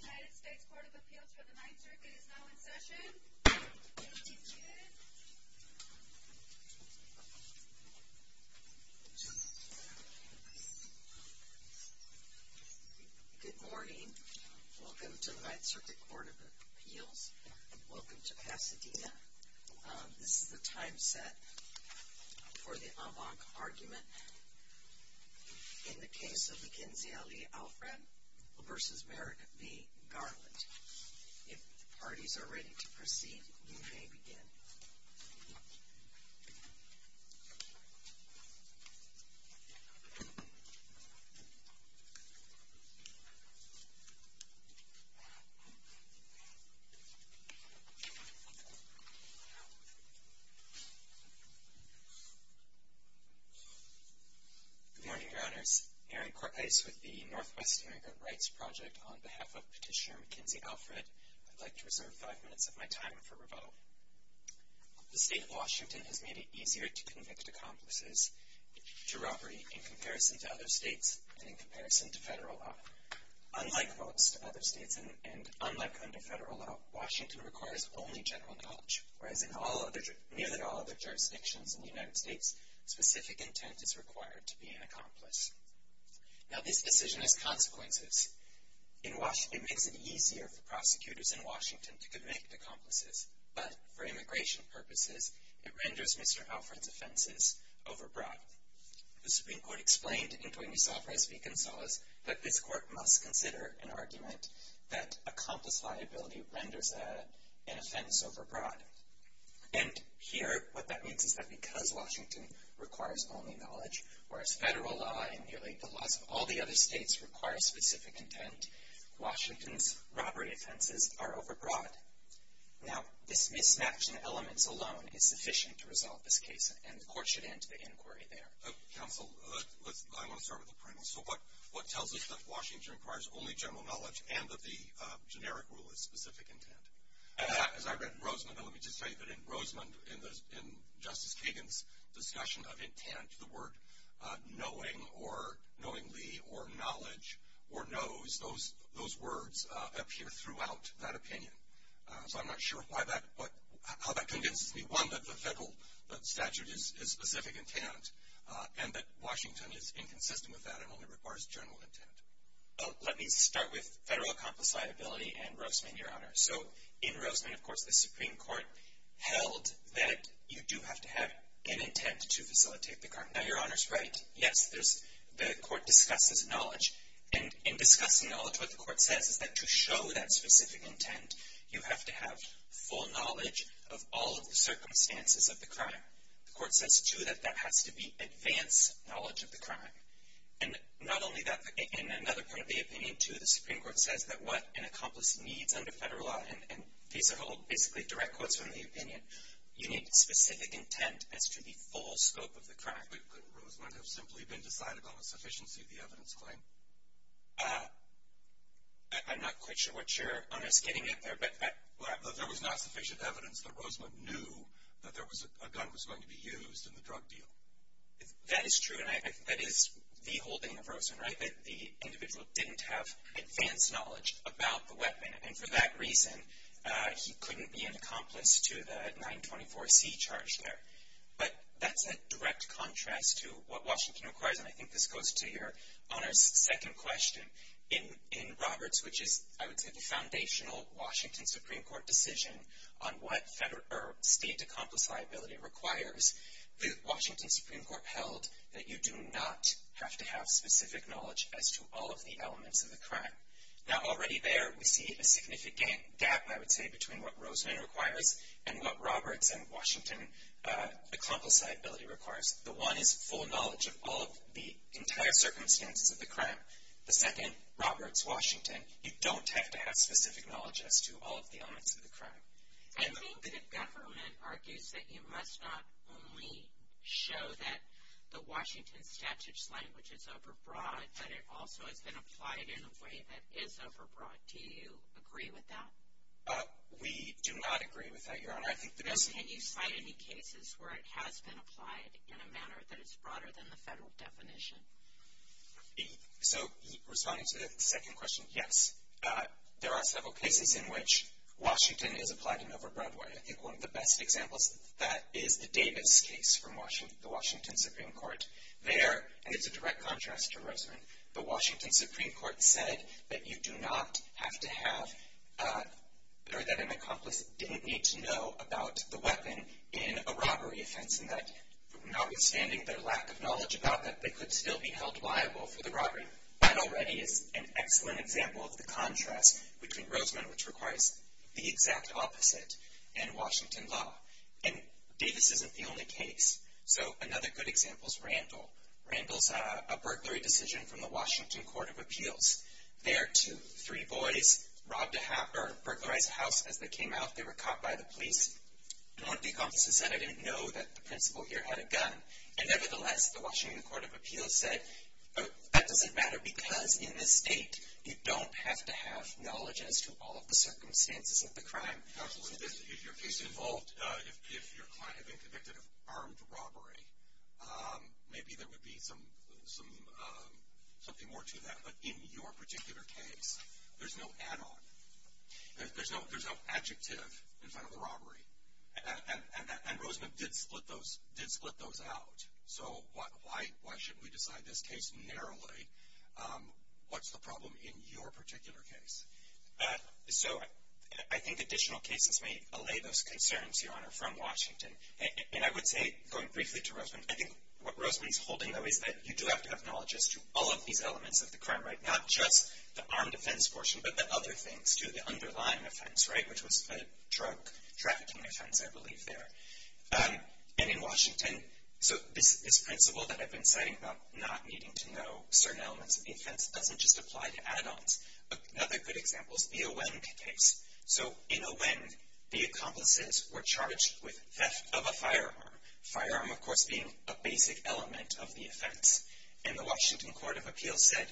Where do you live, Sweet Queen? The United States Court of Appeals for the Ninth Circuit is now in session. Good morning. Welcome to the Ninth Circuit Court of Appeals. Welcome to Pasadena. This is the time set for the avant-garde argument in the case of Mackenzie L.E. Alfred v. Merrick v. Garland. If the parties are ready to proceed, you may begin. Good morning, Your Honors. Aaron Cortlice with the Northwest Immigrant Rights Project. On behalf of Petitioner Mackenzie Alfred, I'd like to reserve five minutes of my time for rebuttal. The state of Washington has made it easier to convict accomplices to robbery in comparison to other states and in comparison to federal law. Unlike most other states and unlike under federal law, Washington requires only general knowledge. Whereas in nearly all other jurisdictions in the United States, specific intent is required to be an accomplice. Now this decision has consequences. It makes it easier for prosecutors in Washington to convict accomplices. But for immigration purposes, it renders Mr. Alfred's offenses overbroad. The Supreme Court explained in Cuenca Alfrez v. Gonzales that this court must consider an argument that accomplice liability renders an offense overbroad. And here what that means is that because Washington requires only knowledge, whereas federal law and nearly all the other states require specific intent, Washington's robbery offenses are overbroad. Now this mismatch in elements alone is sufficient to resolve this case and the court should end the inquiry there. Counsel, I want to start with the premise. So what tells us that Washington requires only general knowledge and that the generic rule is specific intent? As I read in Roseman, let me just say that in Roseman, in Justice Kagan's discussion of intent, the word knowing or knowingly or knowledge or knows, those words appear throughout that opinion. So I'm not sure how that convinces me. One, that the federal statute is specific intent and that Washington is inconsistent with that and only requires general intent. Let me start with federal accomplice liability and Roseman, Your Honor. So in Roseman, of course, the Supreme Court held that you do have to have an intent to facilitate the crime. Now, Your Honor's right. Yes, the court discusses knowledge. And in discussing knowledge, what the court says is that to show that specific intent, you have to have full knowledge of all of the circumstances of the crime. The court says, too, that that has to be advanced knowledge of the crime. And not only that, in another part of the opinion, too, the Supreme Court says that what an accomplice needs under federal law, and these are all basically direct quotes from the opinion, you need specific intent as to the full scope of the crime. But could Roseman have simply been decided on the sufficiency of the evidence claim? I'm not quite sure what Your Honor's getting at there. But there was not sufficient evidence that Roseman knew that a gun was going to be used in the drug deal. That is true, and I think that is the holding of Roseman, right, that the individual didn't have advanced knowledge about the weapon, and for that reason he couldn't be an accomplice to the 924C charge there. But that's a direct contrast to what Washington requires, and I think this goes to Your Honor's second question. In Roberts, which is, I would say, the foundational Washington Supreme Court decision on what state accomplice liability requires, the Washington Supreme Court held that you do not have to have specific knowledge as to all of the elements of the crime. Now, already there, we see a significant gap, I would say, between what Roseman requires and what Roberts and Washington accomplice liability requires. The one is full knowledge of all of the entire circumstances of the crime. The second, Roberts-Washington, you don't have to have specific knowledge as to all of the elements of the crime. I think the government argues that you must not only show that the Washington statute's language is overbroad, but it also has been applied in a way that is overbroad. Do you agree with that? We do not agree with that, Your Honor. Can you cite any cases where it has been applied in a manner that is broader than the federal definition? So, responding to the second question, yes. There are several cases in which Washington is applied in an overbroad way. I think one of the best examples of that is the Davis case from the Washington Supreme Court. There, and it's a direct contrast to Roseman, the Washington Supreme Court said that you do not have to have, or that an accomplice didn't need to know about the weapon in a robbery offense, and that notwithstanding their lack of knowledge about that, they could still be held liable for the robbery. That already is an excellent example of the contrast between Roseman, which requires the exact opposite, and Washington law. And Davis isn't the only case. So, another good example is Randall. Randall's a burglary decision from the Washington Court of Appeals. There, two, three boys burglarized a house as they came out. They were caught by the police. And one of the accomplices said, I didn't know that the principal here had a gun. And nevertheless, the Washington Court of Appeals said, that doesn't matter because in this state, you don't have to have knowledge as to all of the circumstances of the crime. Absolutely. If your case involved, if your client had been convicted of armed robbery, maybe there would be something more to that. But in your particular case, there's no add-on. There's no adjective in front of the robbery. And Roseman did split those out. So, why should we decide this case narrowly? What's the problem in your particular case? So, I think additional cases may allay those concerns, Your Honor, from Washington. And I would say, going briefly to Roseman, I think what Roseman is holding, though, is that you do have to have knowledge as to all of these elements of the crime, right? Not just the armed offense portion, but the other things, too. The underlying offense, right, which was a drug trafficking offense, I believe, there. And in Washington, so this principle that I've been citing about not needing to know certain elements of the offense doesn't just apply to add-ons. Another good example is the Awend case. So, in Awend, the accomplices were charged with theft of a firearm. Firearm, of course, being a basic element of the offense. And the Washington Court of Appeals said,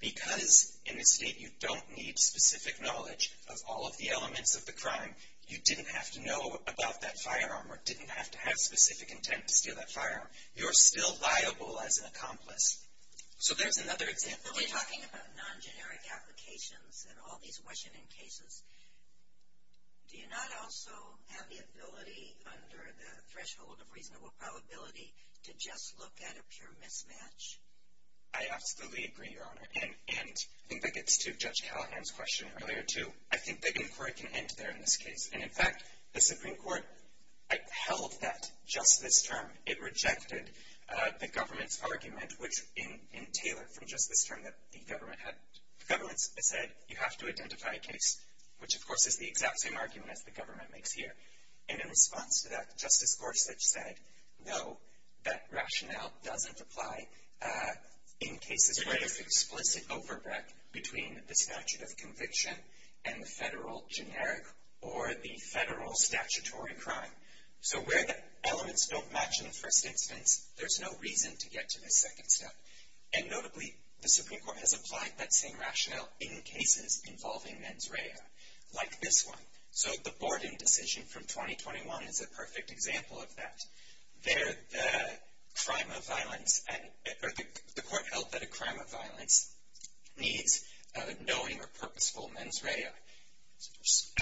because in this state you don't need specific knowledge of all of the elements of the crime, you didn't have to know about that firearm or didn't have to have specific intent to steal that firearm. You're still liable as an accomplice. So, there's another example. When we're talking about non-generic applications and all these Washington cases, do you not also have the ability, under the threshold of reasonable probability, to just look at a pure mismatch? I absolutely agree, Your Honor. And I think that gets to Judge Callahan's question earlier, too. I think the inquiry can end there in this case. And, in fact, the Supreme Court held that just this term it rejected the government's argument, which in Taylor, from just this term, the government said you have to identify a case, which, of course, is the exact same argument as the government makes here. And in response to that, Justice Gorsuch said, no, that rationale doesn't apply in cases where there's explicit overbreak between the statute of conviction and the federal generic or the federal statutory crime. So, where the elements don't match in the first instance, there's no reason to get to the second step. And, notably, the Supreme Court has applied that same rationale in cases involving mens rea, like this one. So, the Borden decision from 2021 is a perfect example of that. There, the crime of violence, or the court held that a crime of violence needs a knowing or purposeful mens rea.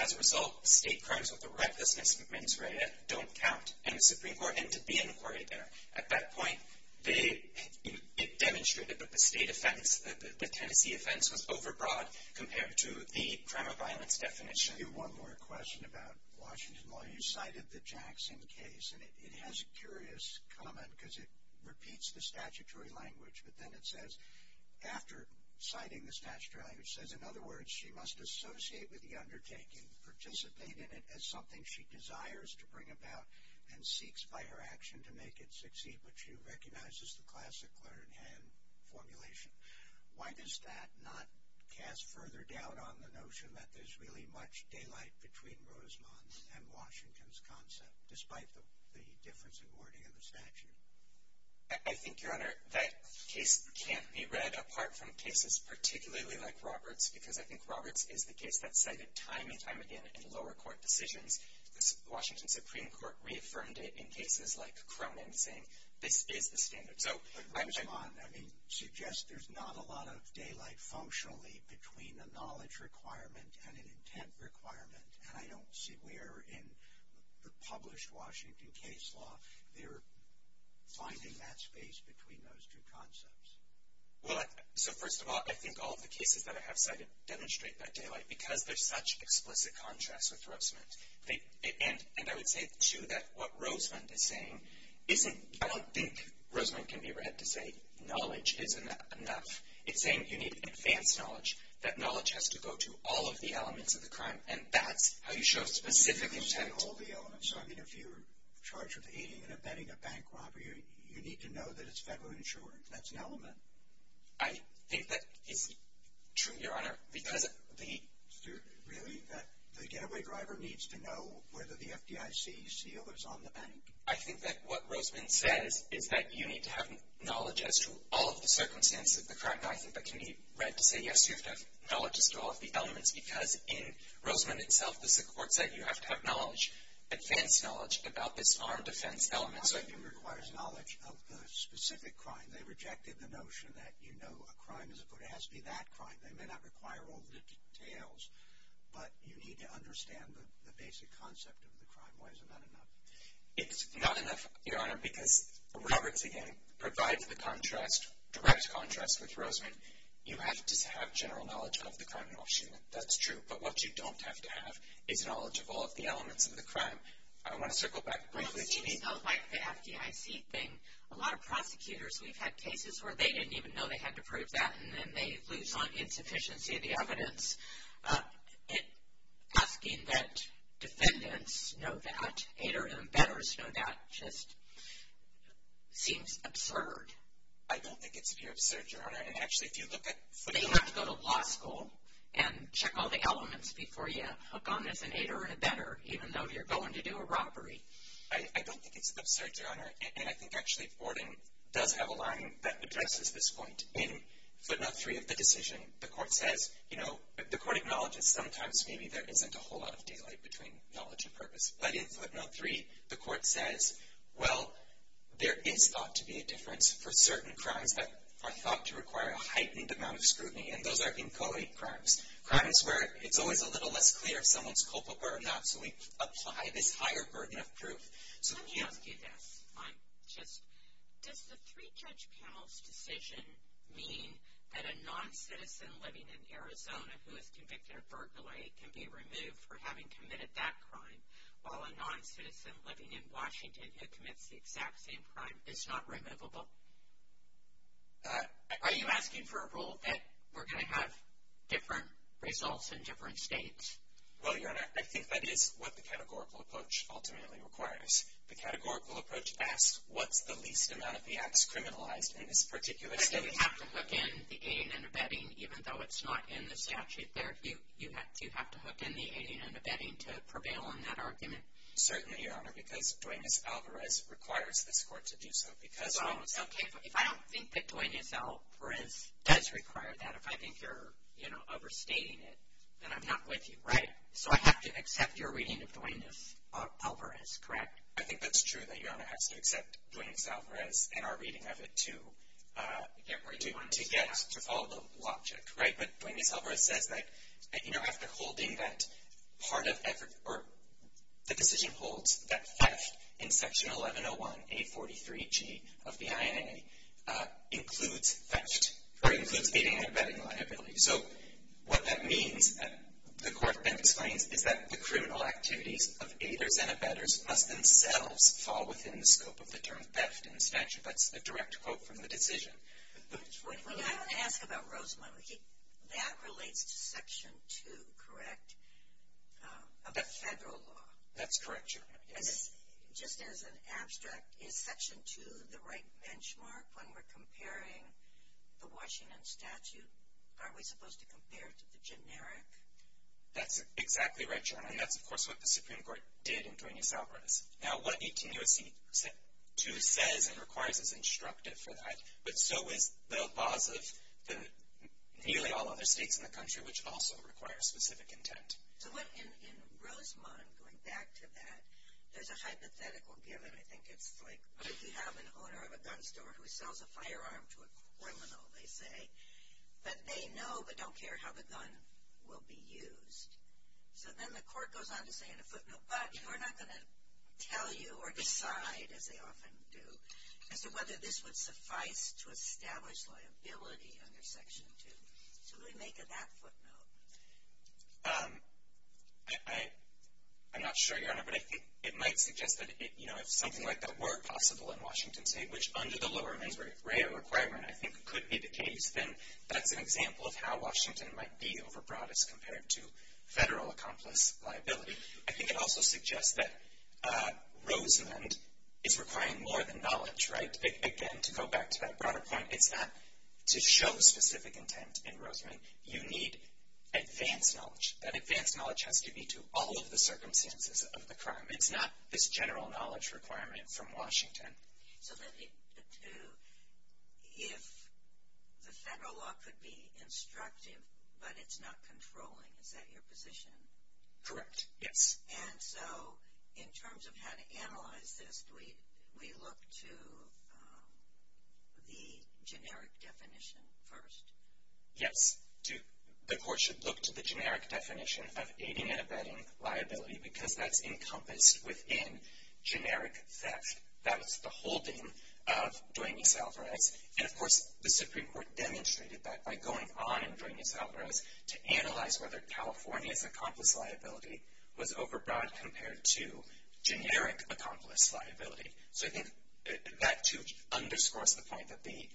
As a result, state crimes with a recklessness mens rea don't count. And the Supreme Court ended the inquiry there. At that point, it demonstrated that the state offense, the Tennessee offense, was overbroad compared to the crime of violence definition. Let me ask you one more question about Washington law. You cited the Jackson case. And it has a curious comment because it repeats the statutory language. But then it says, after citing the statutory language, it says, in other words, she must associate with the undertaking, participate in it as something she desires to bring about, and seeks by her action to make it succeed. But she recognizes the classic clear-in-hand formulation. Why does that not cast further doubt on the notion that there's really much daylight between Rosemont's and Washington's concept, despite the difference in wording in the statute? I think, Your Honor, that case can't be read apart from cases particularly like Roberts, because I think Roberts is the case that's cited time and time again in lower court decisions. The Washington Supreme Court reaffirmed it in cases like Cronin, saying this is the standard. So I'm saying — But Rosemont, I mean, suggests there's not a lot of daylight functionally between a knowledge requirement and an intent requirement. And I don't see where, in the published Washington case law, they're finding that space between those two concepts. Well, so first of all, I think all of the cases that I have cited demonstrate that daylight because there's such explicit contrast with Rosemont. And I would say, too, that what Rosemont is saying isn't — I don't think Rosemont can be read to say knowledge isn't enough. It's saying you need advanced knowledge, that knowledge has to go to all of the elements of the crime. And that's how you show specific intent. You need to present all the elements. So, I mean, if you're charged with aiding and abetting a bank robbery, you need to know that it's federally insured. That's an element. I think that is true, Your Honor, because — Really? The getaway driver needs to know whether the FDIC seal is on the bank. I think that what Rosemont says is that you need to have knowledge as to all of the circumstances of the crime. And I think that can be read to say, yes, you have to have knowledge as to all of the elements, because in Rosemont itself, this is a court set. You have to have knowledge, advanced knowledge, about this armed defense element. So I think it requires knowledge of the specific crime. They rejected the notion that, you know, a crime is a crime. It has to be that crime. They may not require all the details, but you need to understand the basic concept of the crime. Why is it not enough? It's not enough, Your Honor, because Roberts, again, provides the contrast, direct contrast with Rosemont. You have to have general knowledge of the crime in Rosemont. That's true. But what you don't have to have is knowledge of all of the elements of the crime. I want to circle back briefly to the — Well, it seems like the FDIC thing, a lot of prosecutors, we've had cases where they didn't even know they had to prove that, and then they lose on insufficiency of the evidence. Asking that defendants know that and betters know that just seems absurd. I don't think it's absurd, Your Honor. And actually, if you look at — But you have to go to law school and check all the elements before you hook on as an aider and abetter, even though you're going to do a robbery. I don't think it's absurd, Your Honor. And I think actually Ordon does have a line that addresses this point. In footnote 3 of the decision, the court says, you know, the court acknowledges sometimes maybe there isn't a whole lot of daylight between knowledge and purpose. But in footnote 3, the court says, well, there is thought to be a difference for certain crimes that are thought to require a heightened amount of scrutiny. And those are encoded crimes, crimes where it's always a little less clear if someone's culpable or not. So we apply this higher burden of proof. Let me ask you this. Does the three-judge panel's decision mean that a noncitizen living in Arizona who is convicted of burglary can be removed for having committed that crime, while a noncitizen living in Washington who commits the exact same crime is not removable? Are you asking for a rule that we're going to have different results in different states? Well, Your Honor, I think that is what the categorical approach ultimately requires. The categorical approach asks, what's the least amount of the acts criminalized in this particular state? But then you have to hook in the aid and abetting, even though it's not in the statute there. You have to hook in the aid and abetting to prevail in that argument. Certainly, Your Honor, because Duenas-Alvarez requires this court to do so. If I don't think that Duenas-Alvarez does require that, if I think you're overstating it, then I'm not with you. Right. So I have to accept your reading of Duenas-Alvarez, correct? I think that's true that Your Honor has to accept Duenas-Alvarez and our reading of it to get to follow the logic. Right? But Duenas-Alvarez says that, you know, after holding that part of effort or the decision holds that theft in Section 1101A43G of the INA includes theft or includes aid and abetting liability. So what that means, the court then explains, is that the criminal activities of aiders and abettors must themselves fall within the scope of the term theft in the statute. That's a direct quote from the decision. I want to ask about Rosamond. That relates to Section 2, correct, of the federal law? That's correct, Your Honor, yes. Just as an abstract, is Section 2 the right benchmark when we're comparing the Washington statute? Aren't we supposed to compare to the generic? That's exactly right, Your Honor, and that's, of course, what the Supreme Court did in Duenas-Alvarez. Now, what 18 U.S.C. 2 says and requires is instructive for that, but so is the laws of nearly all other states in the country, which also require specific intent. So what in Rosamond, going back to that, there's a hypothetical given. I think it's like you have an owner of a gun store who sells a firearm to a criminal, they say, but they know but don't care how the gun will be used. So then the court goes on to say in a footnote, but we're not going to tell you or decide, as they often do, as to whether this would suffice to establish liability under Section 2. So who would make that footnote? I'm not sure, Your Honor, but I think it might suggest that if something like that were possible in Washington State, which under the lower mens rea requirement I think could be the case, then that's an example of how Washington might be overbroad as compared to federal accomplice liability. I think it also suggests that Rosamond is requiring more than knowledge, right? Again, to go back to that broader point, it's not to show specific intent in Rosamond. You need advanced knowledge. That advanced knowledge has to be to all of the circumstances of the crime. It's not this general knowledge requirement from Washington. So if the federal law could be instructive, but it's not controlling, is that your position? Correct, yes. And so in terms of how to analyze this, do we look to the generic definition first? Yes, the court should look to the generic definition of aiding and abetting liability because that's encompassed within generic theft. That was the holding of Duane E. Salvarez. And, of course, the Supreme Court demonstrated that by going on in Duane E. Salvarez to analyze whether California's accomplice liability was overbroad compared to generic accomplice liability. So I think that, too, underscores the point that the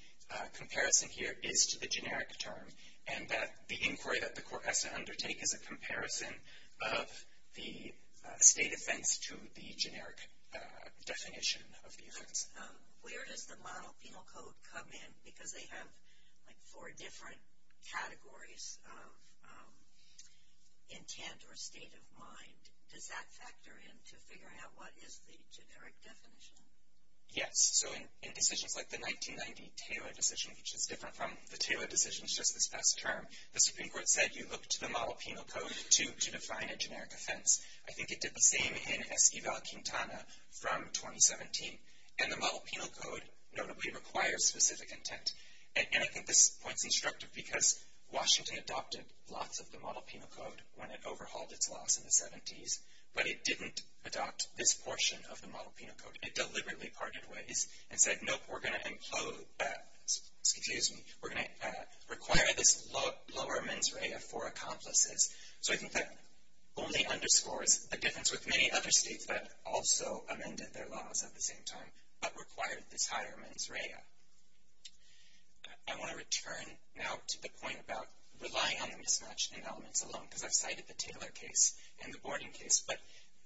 comparison here is to the generic term and that the inquiry that the court has to undertake is a comparison of the state offense to the generic definition of the offense. Where does the model penal code come in? Because they have, like, four different categories of intent or state of mind. Does that factor in to figure out what is the generic definition? Yes. So in decisions like the 1990 Taylor decision, which is different from the Taylor decision, it's just this past term, the Supreme Court said you look to the model penal code to define a generic offense. I think it did the same in Esquivel-Quintana from 2017. And the model penal code notably requires specific intent. And I think this point is instructive because Washington adopted lots of the model penal code when it overhauled its laws in the 70s, but it didn't adopt this portion of the model penal code. It deliberately parted ways and said, nope, we're going to include that. Excuse me. We're going to require this lower mens rea for accomplices. So I think that only underscores a difference with many other states that also amended their laws at the same time, but required this higher mens rea. I want to return now to the point about relying on the mismatch in elements alone, because I've cited the Taylor case and the Borden case. But,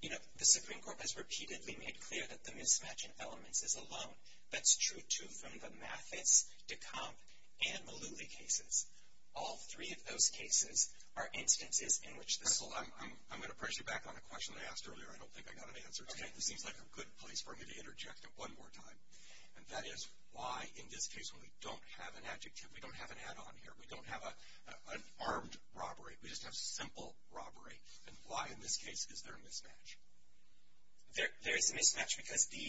you know, the Supreme Court has repeatedly made clear that the mismatch in elements is alone. That's true, too, from the Mathis, Decomp, and Mullooly cases. All three of those cases are instances in which this. Crystal, I'm going to pressure you back on a question that I asked earlier. I don't think I got an answer to it. Okay. This seems like a good place for me to interject it one more time, and that is why in this case when we don't have an adjective, we don't have an add-on here. We don't have an armed robbery. We just have simple robbery. And why in this case is there a mismatch? There is a mismatch because the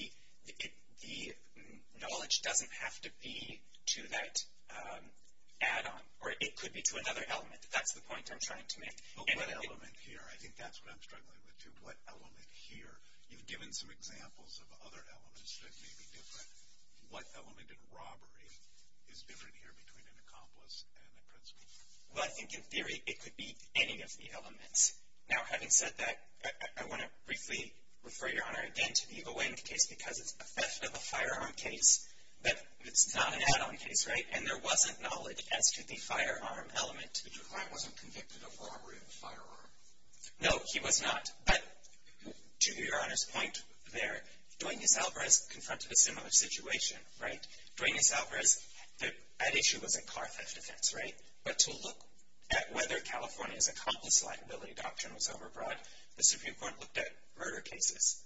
knowledge doesn't have to be to that add-on. Or it could be to another element. That's the point I'm trying to make. What element here? I think that's what I'm struggling with, too. What element here? You've given some examples of other elements that may be different. What element in robbery is different here between an accomplice and a principal? Well, I think in theory it could be any of the elements. Now, having said that, I want to briefly refer Your Honor again to the O. N. case because it's a theft of a firearm case, but it's not an add-on case, right? And there wasn't knowledge as to the firearm element. But your client wasn't convicted of robbery of a firearm. No, he was not. But to Your Honor's point there, Duenas-Alvarez confronted a similar situation, right? Duenas-Alvarez, that issue was a car theft offense, right? But to look at whether California's accomplice liability doctrine was overbroad, the Supreme Court looked at murder cases,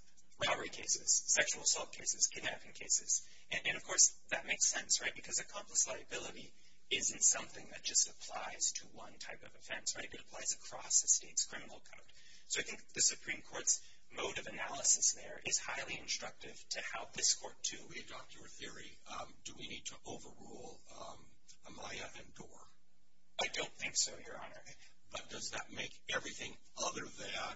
robbery cases, sexual assault cases, kidnapping cases. And, of course, that makes sense, right? Because accomplice liability isn't something that just applies to one type of offense, right? It applies across a state's criminal code. So I think the Supreme Court's mode of analysis there is highly instructive to how this court, too. When we adopt your theory, do we need to overrule Amaya and Doar? I don't think so, Your Honor. But does that make everything other than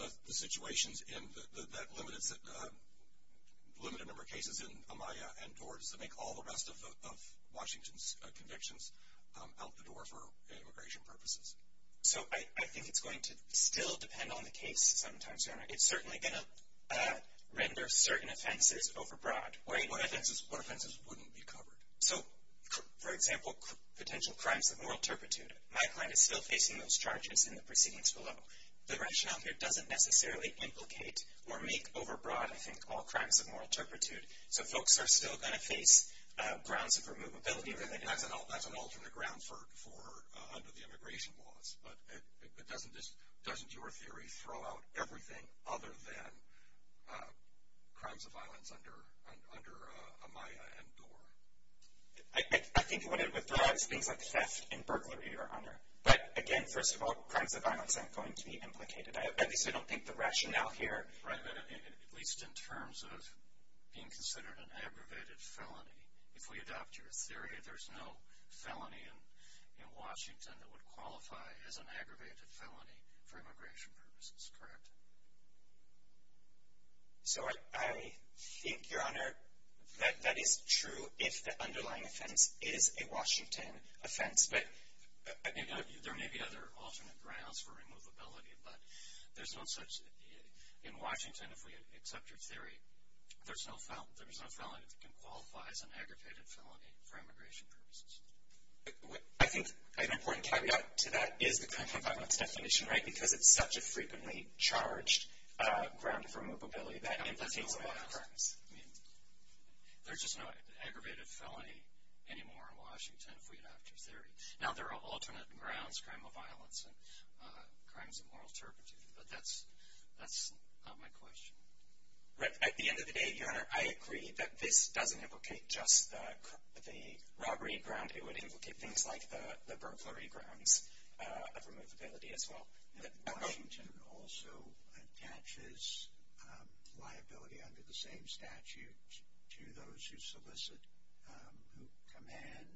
the situations that limit a number of cases in Amaya and Doar, does it make all the rest of Washington's convictions out the door for immigration purposes? So I think it's going to still depend on the case sometimes, Your Honor. It's certainly going to render certain offenses overbroad. What offenses wouldn't be covered? So, for example, potential crimes of moral turpitude. My client is still facing those charges in the proceedings below. The rationale here doesn't necessarily implicate or make overbroad, I think, all crimes of moral turpitude. So folks are still going to face grounds of removability. That's an alternate ground for under the immigration laws. But doesn't your theory throw out everything other than crimes of violence under Amaya and Doar? I think what it would throw out is things like theft and burglary, Your Honor. But, again, first of all, crimes of violence aren't going to be implicated. At least I don't think the rationale here. Right, at least in terms of being considered an aggravated felony. If we adopt your theory, there's no felony in Washington that would qualify as an aggravated felony for immigration purposes, correct? So I think, Your Honor, that that is true if the underlying offense is a Washington offense. There may be other alternate grounds for removability, but there's no such. In Washington, if we accept your theory, there's no felony that can qualify as an aggravated felony for immigration purposes. I think an important caveat to that is the crime of violence definition, right? Because it's such a frequently charged ground for removability that implicates a lot of crimes. There's just no aggravated felony anymore in Washington if we adopt your theory. Now, there are alternate grounds, crime of violence and crimes of moral turpitude, but that's not my question. At the end of the day, Your Honor, I agree that this doesn't implicate just the robbery ground. It would implicate things like the burglary grounds of removability as well. But Washington also attaches liability under the same statute to those who solicit, who command,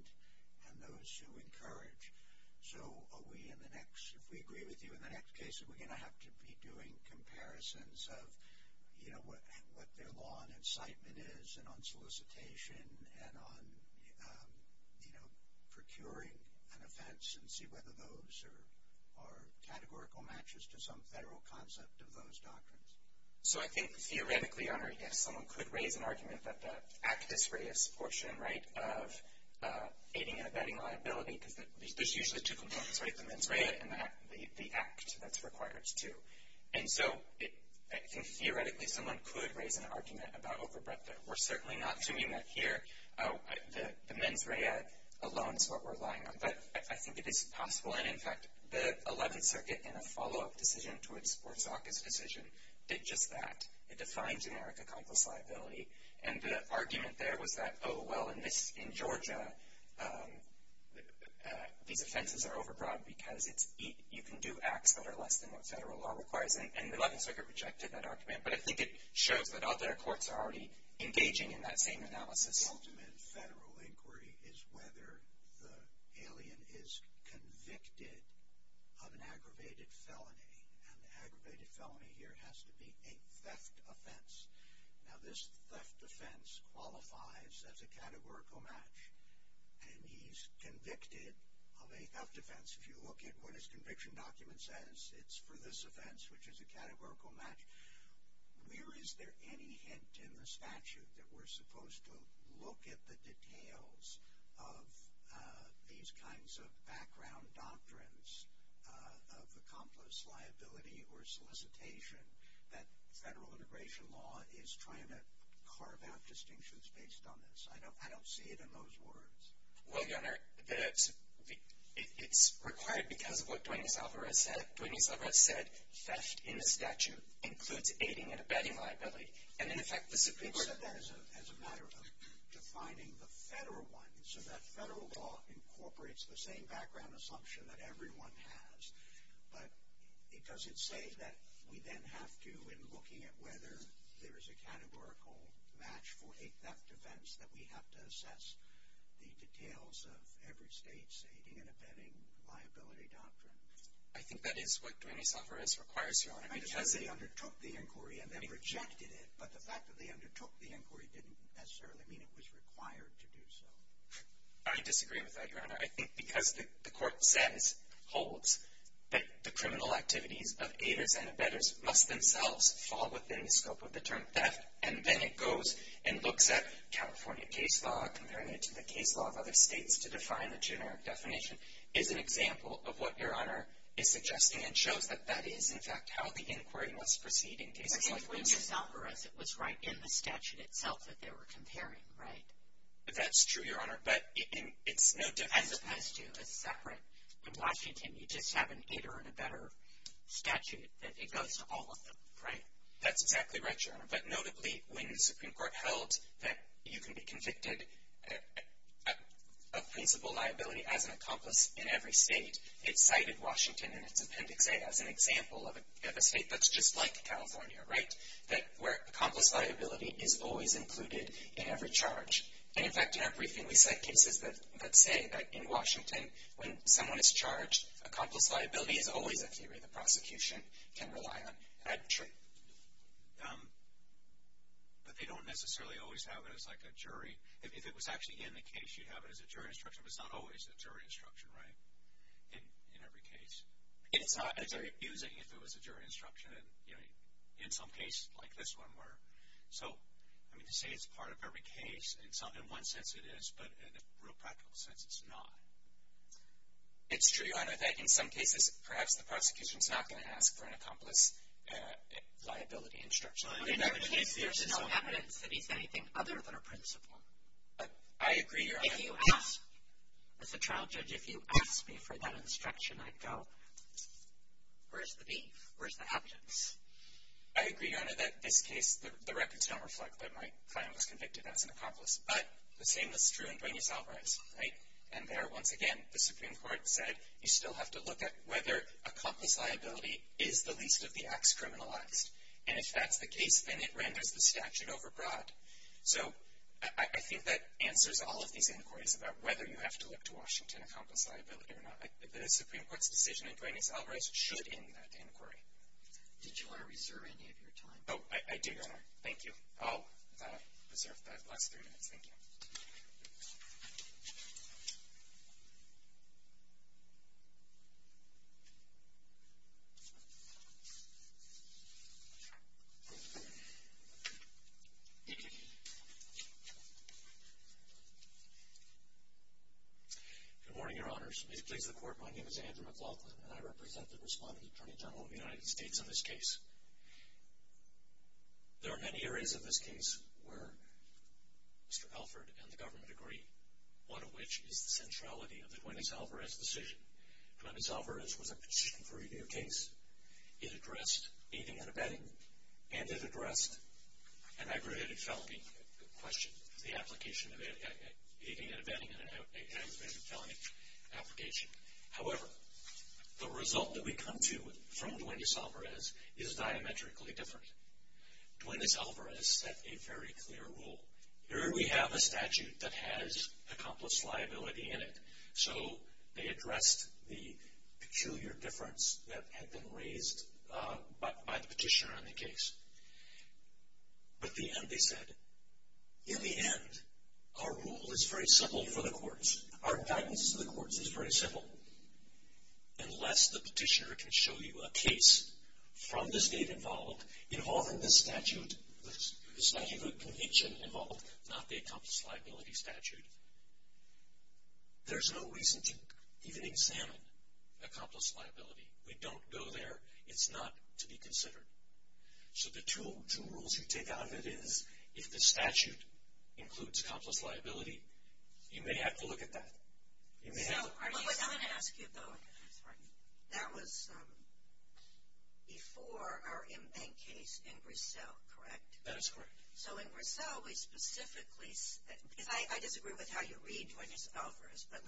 and those who encourage. So are we in the next – if we agree with you in the next case, are we going to have to be doing comparisons of, you know, what their law and incitement is and on solicitation and on, you know, procuring an offense and see whether those are categorical matches to some federal concept of those doctrines? So I think theoretically, Your Honor, yes, someone could raise an argument that the actus reus portion, right, of aiding and abetting liability – because there's usually two components, right? The mens rea and the act that's required too. And so I think theoretically someone could raise an argument about overbreadth. We're certainly not doing that here. The mens rea alone is what we're relying on. But I think it is possible. And, in fact, the 11th Circuit in a follow-up decision to its sports office decision did just that. It defined generic accomplice liability. And the argument there was that, oh, well, in Georgia, these offenses are overbroad because you can do acts that are less than what federal law requires. And the 11th Circuit rejected that argument. But I think it shows that other courts are already engaging in that same analysis. The ultimate federal inquiry is whether the alien is convicted of an aggravated felony. And the aggravated felony here has to be a theft offense. Now this theft offense qualifies as a categorical match. And he's convicted of a theft offense. If you look at what his conviction document says, it's for this offense, which is a categorical match. Where is there any hint in the statute that we're supposed to look at the details of these kinds of background doctrines of accomplice liability or solicitation that federal integration law is trying to carve out distinctions based on this? I don't see it in those words. Well, Your Honor, it's required because of what Duane E. Zalvarez said. Duane E. Zalvarez said theft in the statute includes aiding and abetting liability. And in effect, the Supreme Court— He said that as a matter of defining the federal one. So that federal law incorporates the same background assumption that everyone has. But does it say that we then have to, in looking at whether there is a categorical match for a theft offense, that we have to assess the details of every state's aiding and abetting liability doctrine? I think that is what Duane E. Zalvarez requires, Your Honor. Because they undertook the inquiry and then rejected it. But the fact that they undertook the inquiry didn't necessarily mean it was required to do so. I disagree with that, Your Honor. I think because the court says, holds, that the criminal activities of aiders and abettors must themselves fall within the scope of the term theft, and then it goes and looks at California case law, comparing it to the case law of other states to define the generic definition, is an example of what Your Honor is suggesting and shows that that is, in fact, how the inquiry must proceed in cases like this. But Duane E. Zalvarez, it was right in the statute itself that they were comparing, right? That's true, Your Honor. As opposed to a separate, in Washington you just have an aider and abettor statute, that it goes to all of them, right? That's exactly right, Your Honor. But notably, when the Supreme Court held that you can be convicted of principal liability as an accomplice in every state, it cited Washington in its Appendix A as an example of a state that's just like California, right? That where accomplice liability is always included in every charge. And, in fact, in our briefing we cite cases that say that in Washington, when someone is charged, accomplice liability is always a theory. The prosecution can rely on that truth. But they don't necessarily always have it as like a jury. If it was actually in the case, you'd have it as a jury instruction, but it's not always a jury instruction, right, in every case? It's not. It's very abusing if it was a jury instruction, and in some cases, like this one, where. So, I mean, to say it's part of every case, in one sense it is, but in a real practical sense, it's not. It's true, Your Honor, that in some cases, perhaps the prosecution is not going to ask for an accomplice liability instruction. In every case, there's no evidence that he's anything other than a principal. I agree, Your Honor. If you ask, as a trial judge, if you ask me for that instruction, I'd go, where's the beef? Where's the evidence? I agree, Your Honor, that in this case, the records don't reflect that my client was convicted as an accomplice. But the same is true in Duane E. Albright's, right? And there, once again, the Supreme Court said, you still have to look at whether accomplice liability is the least of the acts criminalized. And if that's the case, then it renders the statute overbroad. So I think that answers all of these inquiries about whether you have to look to Washington accomplice liability or not. The Supreme Court's decision in Duane E. Albright's should end that inquiry. Did you want to reserve any of your time? Oh, I did, Your Honor. Thank you. I'll reserve the last three minutes. Thank you. Good morning, Your Honors. May it please the Court, my name is Andrew McLaughlin and I represent the Respondent Attorney General of the United States on this case. There are many areas of this case where Mr. Alford and the government agree, one of which is the centrality of the Duane E. Albright's decision. Duane E. Albright's was a petition for a new case. It addressed aiding and abetting, and it addressed an aggravated felony question, the application of aiding and abetting in an aggravated felony application. However, the result that we come to from Duane E. Albright's is diametrically different. Duane E. Albright's set a very clear rule. Here we have a statute that has accomplice liability in it, so they addressed the peculiar difference that had been raised by the petitioner on the case. But at the end they said, in the end, our rule is very simple for the courts. Our guidance to the courts is very simple. Unless the petitioner can show you a case from the state involved, involving this statute, this statute of conviction involved, not the accomplice liability statute, there's no reason to even examine accomplice liability. We don't go there. It's not to be considered. So the two rules you take out of it is, if the statute includes accomplice liability, you may have to look at that. You may have to. But what I want to ask you, though, that was before our M-Bank case in Brussels, correct? That is correct. So in Brussels we specifically, because I disagree with how you read Duane E. Albright's, but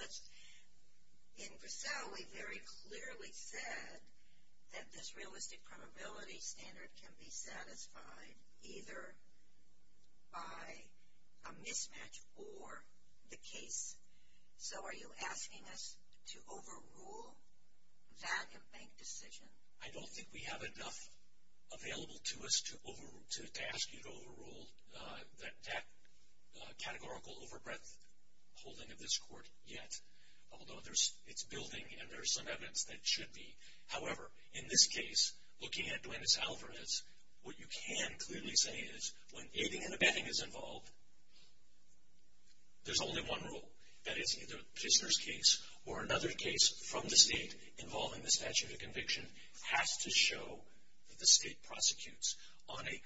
in Brussels we very clearly said that this realistic probability standard can be satisfied either by a mismatch or the case. So are you asking us to overrule that M-Bank decision? I don't think we have enough available to us to ask you to overrule that categorical overbreadth holding of this court yet, although it's building and there's some evidence that it should be. However, in this case, looking at Duane S. Albright's, what you can clearly say is, when aiding and abetting is involved, there's only one rule. That is, either the prisoner's case or another case from the state involving the statute of conviction has to show that the state prosecutes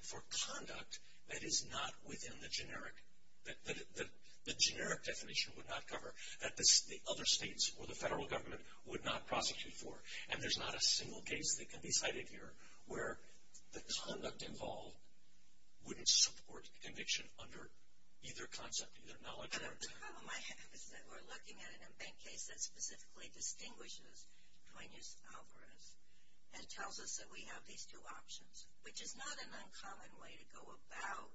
for conduct that is not within the generic definition, would not cover, that the other states or the federal government would not prosecute for. And there's not a single case that can be cited here where the conduct involved wouldn't support conviction under either concept, either knowledge or intent. The problem I have is that we're looking at an M-Bank case that specifically distinguishes Duane S. Albright's and tells us that we have these two options, which is not an uncommon way to go about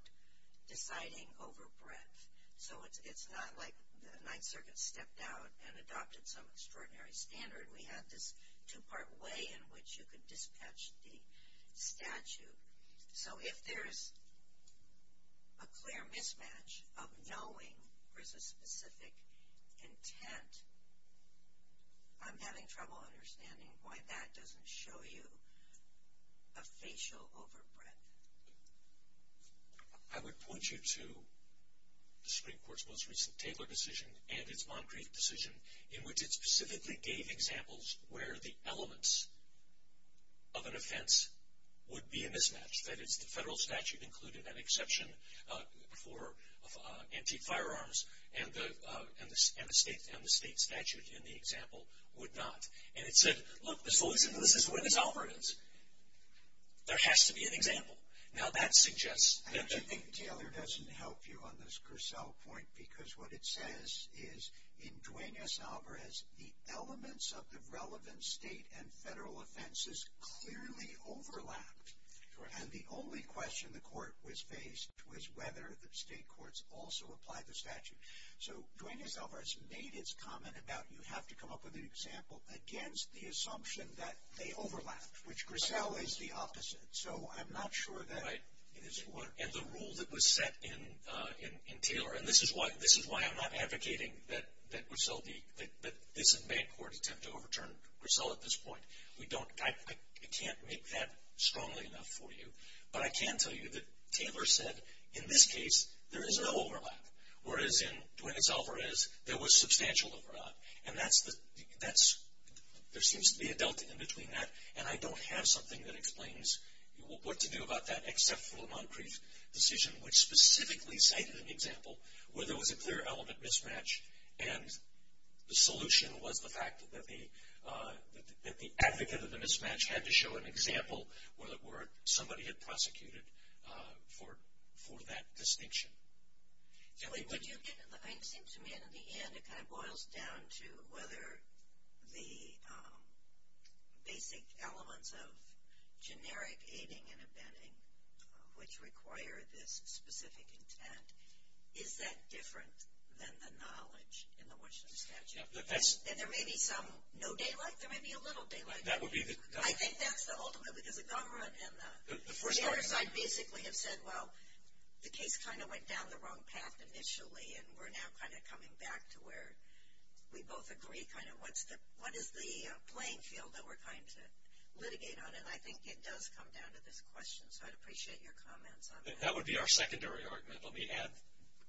deciding overbreadth. So it's not like the Ninth Circuit stepped out and adopted some extraordinary standard. We had this two-part way in which you could dispatch the statute. So if there's a clear mismatch of knowing there's a specific intent, I'm having trouble understanding why that doesn't show you a facial overbreadth. I would point you to the Supreme Court's most recent Taylor decision and its Moncrief decision in which it specifically gave examples where the elements of an offense would be a mismatch. That is, the federal statute included an exception for antique firearms and the state statute in the example would not. And it said, look, the solution to this is Duane S. Albright. There has to be an example. Now that suggests that the- I actually think Taylor doesn't help you on this Cursel point because what it says is in Duane S. Albright's the elements of the relevant state and federal offenses clearly overlapped. And the only question the court was faced was whether the state courts also applied the statute. So Duane S. Albright's made its comment about you have to come up with an example against the assumption that they overlapped, which Grisel is the opposite. So I'm not sure that it is what- And the rule that was set in Taylor, and this is why I'm not advocating that Grisel be- that this and Bancorp attempt to overturn Grisel at this point. We don't- I can't make that strongly enough for you. But I can tell you that Taylor said in this case there is no overlap, whereas in Duane S. Albright's there was substantial overlap. And that's the- that's- there seems to be a delta in between that, and I don't have something that explains what to do about that except for the Moncrief decision, which specifically cited an example where there was a clear element mismatch, and the solution was the fact that the advocate of the mismatch had to show an example where somebody had prosecuted for that distinction. Would you get- it seems to me in the end it kind of boils down to whether the basic elements of generic aiding and abetting, which require this specific intent, is that different than the knowledge in the Winston statute? Yeah, that's- And there may be some no daylight, there may be a little daylight. That would be the- I think that's the ultimate because the government and the- The first- The other side basically have said, well, the case kind of went down the wrong path initially, and we're now kind of coming back to where we both agree kind of what's the- what is the playing field that we're trying to litigate on? And I think it does come down to this question, so I'd appreciate your comments on that. That would be our secondary argument. Let me add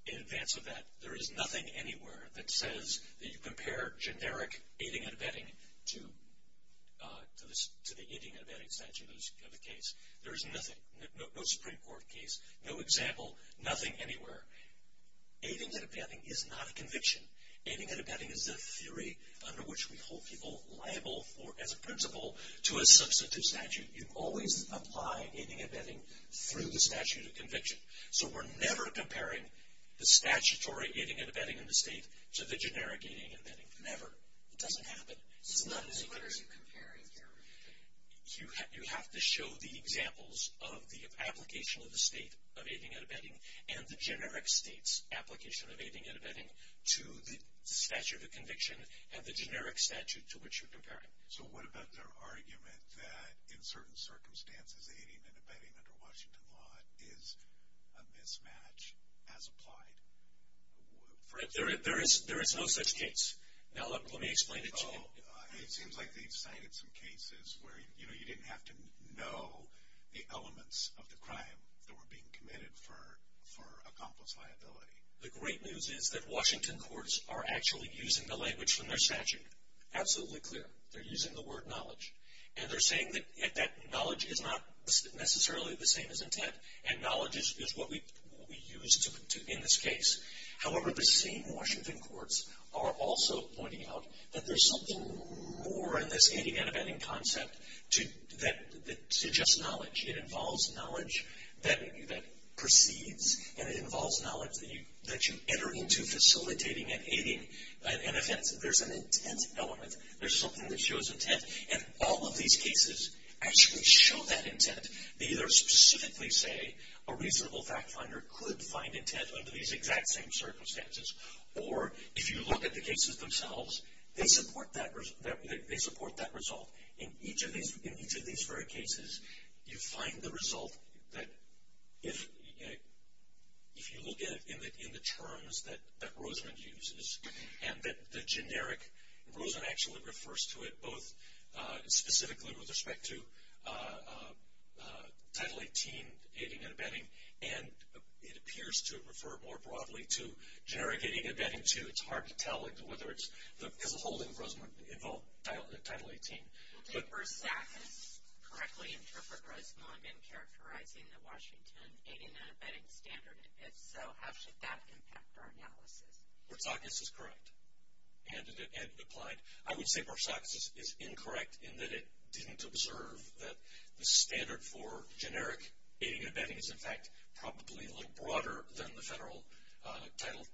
in advance of that, there is nothing anywhere that says that you compare generic aiding and abetting to the aiding and abetting statutes of the case. There is nothing. No Supreme Court case, no example, nothing anywhere. Aiding and abetting is not a conviction. Aiding and abetting is a theory under which we hold people liable for, as a principle, to a substantive statute. You always apply aiding and abetting through the statute of conviction. So we're never comparing the statutory aiding and abetting in the state to the generic aiding and abetting. Never. It doesn't happen. It's not- So what are you comparing here with the- You have to show the examples of the application of the state of aiding and abetting and the generic state's application of aiding and abetting to the statute of conviction and the generic statute to which you're comparing. So what about their argument that, in certain circumstances, aiding and abetting under Washington law is a mismatch as applied? There is no such case. Now let me explain it to you. Well, it seems like they've cited some cases where, you know, you didn't have to know the elements of the crime that were being committed for accomplice liability. The great news is that Washington courts are actually using the language from their statute. Absolutely clear. They're using the word knowledge. And they're saying that knowledge is not necessarily the same as intent, and knowledge is what we use in this case. However, the same Washington courts are also pointing out that there's something more in this aiding and abetting concept that suggests knowledge. It involves knowledge that precedes, and it involves knowledge that you enter into facilitating an aiding and abetting. There's an intent element. There's something that shows intent. And all of these cases actually show that intent. They either specifically say a reasonable fact finder could find intent under these exact same circumstances, or if you look at the cases themselves, they support that result. In each of these very cases, you find the result that if you look at it in the terms that Rosamond uses, and that the generic, Rosamond actually refers to it both specifically with respect to Title 18, aiding and abetting, and it appears to refer more broadly to generic aiding and abetting, too. It's hard to tell whether it's, because the whole thing, Rosamond, involved Title 18. Did Bersakis correctly interpret Rosamond in characterizing the Washington aiding and abetting standard, and if so, how should that impact our analysis? Bersakis is correct, and it applied. I would say Bersakis is incorrect in that it didn't observe that the standard for generic aiding and abetting is, in fact, probably a little broader than the federal Title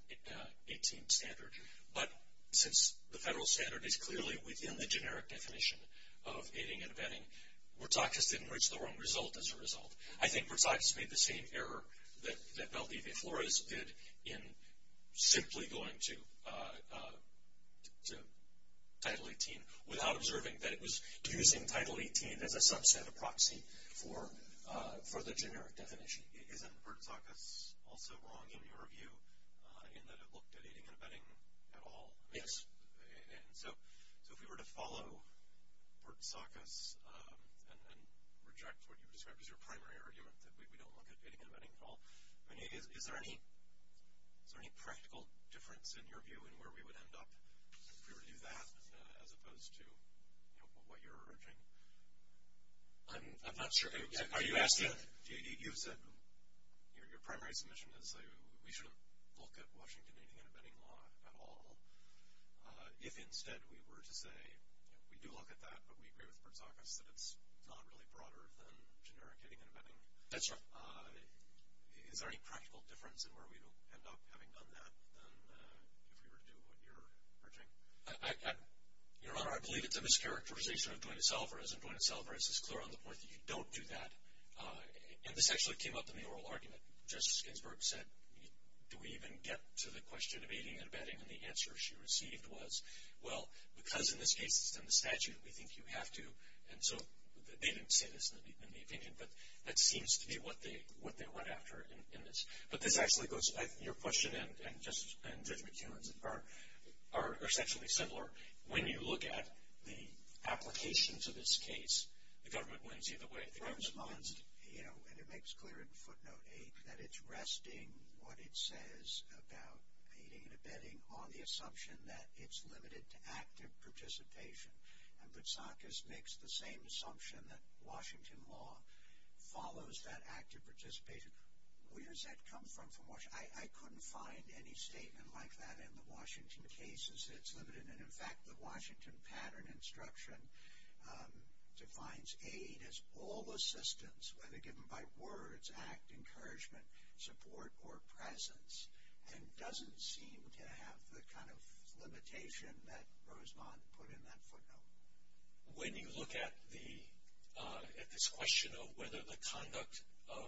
18 standard. But since the federal standard is clearly within the generic definition of aiding and abetting, Bersakis didn't reach the wrong result as a result. I think Bersakis made the same error that Valdez de Flores did in simply going to Title 18 without observing that it was using Title 18 as a subset of proxy for the generic definition. Isn't Bersakis also wrong in your view in that it looked at aiding and abetting at all? Yes. So if we were to follow Bersakis and reject what you described as your primary argument, that we don't look at aiding and abetting at all, is there any practical difference in your view in where we would end up if we were to do that as opposed to what you're urging? I'm not sure. Are you asking? J.D., you said your primary submission is that we shouldn't look at Washington aiding and abetting law at all. If, instead, we were to say we do look at that, but we agree with Bersakis that it's not really broader than generic aiding and abetting. That's right. Is there any practical difference in where we would end up having done that than if we were to do what you're urging? Your Honor, I believe it's a mischaracterization of joint itself, or is this clear on the part that you don't do that? And this actually came up in the oral argument. Justice Ginsburg said, do we even get to the question of aiding and abetting? And the answer she received was, well, because in this case it's in the statute, we think you have to. And so they didn't say this in the opinion, but that seems to be what they went after in this. But this actually goes, your question and Judge McEwen's are essentially similar. When you look at the applications of this case, the government wins either way. The government wins. Your response, you know, and it makes clear in footnote 8, that it's resting what it says about aiding and abetting on the assumption that it's limited to active participation. And Bersakis makes the same assumption that Washington law follows that active participation. Where does that come from from Washington? I couldn't find any statement like that in the Washington cases. It's limited. And, in fact, the Washington pattern instruction defines aid as all assistance, whether given by words, act, encouragement, support, or presence. And doesn't seem to have the kind of limitation that Rosemont put in that footnote. When you look at the, at this question of whether the conduct of,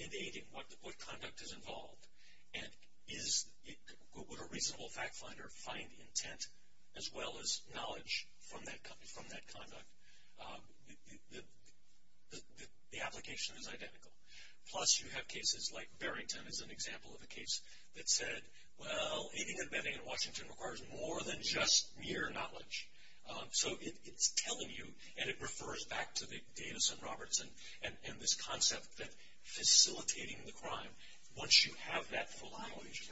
in aiding, what conduct is involved, and is, would a reasonable fact finder find intent as well as knowledge from that conduct, the application is identical. Plus, you have cases like Barrington is an example of a case that said, well, aiding and abetting in Washington requires more than just mere knowledge. So it's telling you, and it refers back to the Davis and Roberts and this concept that facilitating the crime, once you have that full knowledge.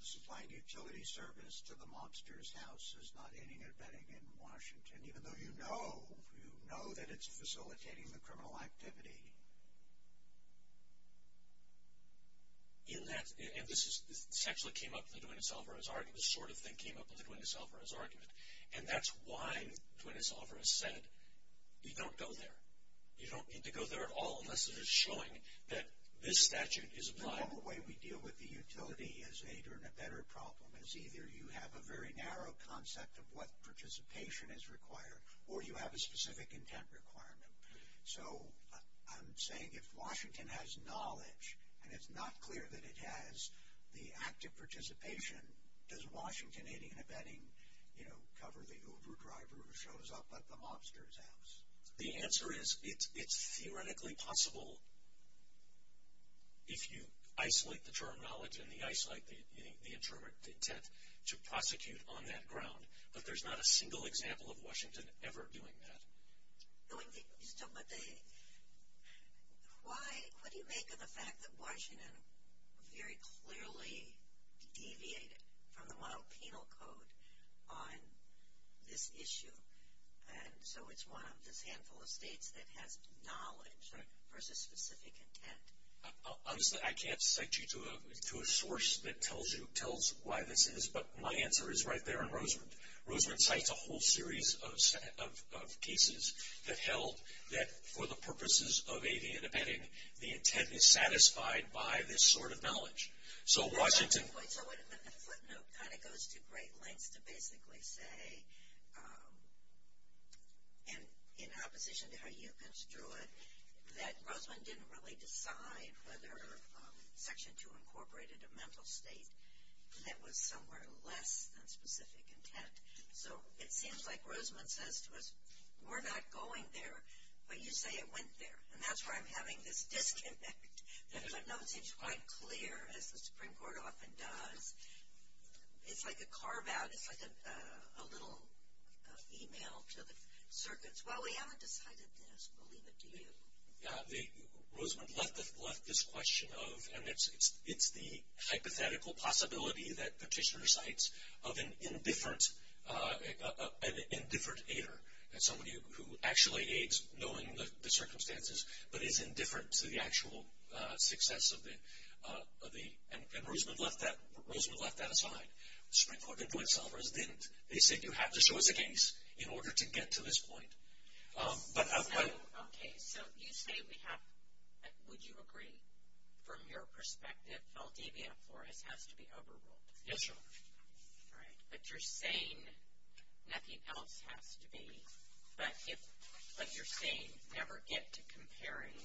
Supplying utility service to the mobster's house is not aiding and abetting in Washington, even though you know, you know that it's facilitating the criminal activity. In that, and this is, this actually came up in the Duenas-Alvarez argument, this sort of thing came up in the Duenas-Alvarez argument. And that's why Duenas-Alvarez said, you don't go there. You don't need to go there at all, unless it is showing that this statute is applied. The normal way we deal with the utility as aid or abetter problem is either you have a very narrow concept of what participation is required, or you have a specific intent requirement. So I'm saying if Washington has knowledge, and it's not clear that it has the active participation, does Washington aiding and abetting, you know, cover the Uber driver who shows up at the mobster's house? The answer is it's theoretically possible if you isolate the term knowledge and you isolate the intent to prosecute on that ground. But there's not a single example of Washington ever doing that. Why, what do you make of the fact that Washington very clearly deviated from the model penal code on this issue? And so it's one of this handful of states that has knowledge versus specific intent. Honestly, I can't cite you to a source that tells you, tells why this is, but my answer is right there in Rosemont. Rosemont cites a whole series of cases that held that for the purposes of aiding and abetting, the intent is satisfied by this sort of knowledge. So Washington. The footnote kind of goes to great lengths to basically say, in opposition to how you construed, that Rosemont didn't really decide whether Section 2 incorporated a mental state that was somewhere less than specific intent. So it seems like Rosemont says to us, we're not going there, but you say it went there. And that's why I'm having this disconnect. The footnote seems quite clear, as the Supreme Court often does. It's like a carve-out. It's like a little email to the circuits. Well, we haven't decided this. We'll leave it to you. Yeah, Rosemont left this question of, and it's the hypothetical possibility that Petitioner cites of an indifferent aider. That's somebody who actually aids, knowing the circumstances, but is indifferent to the actual success of the, and Rosemont left that aside. The Supreme Court didn't do it. Selvers didn't. They said, you have to show us a case in order to get to this point. But I. Okay. So you say we have, would you agree, from your perspective, Valdivia and Flores has to be overruled? Yes, Your Honor. All right. But you're saying nothing else has to be. But if, like you're saying, never get to comparing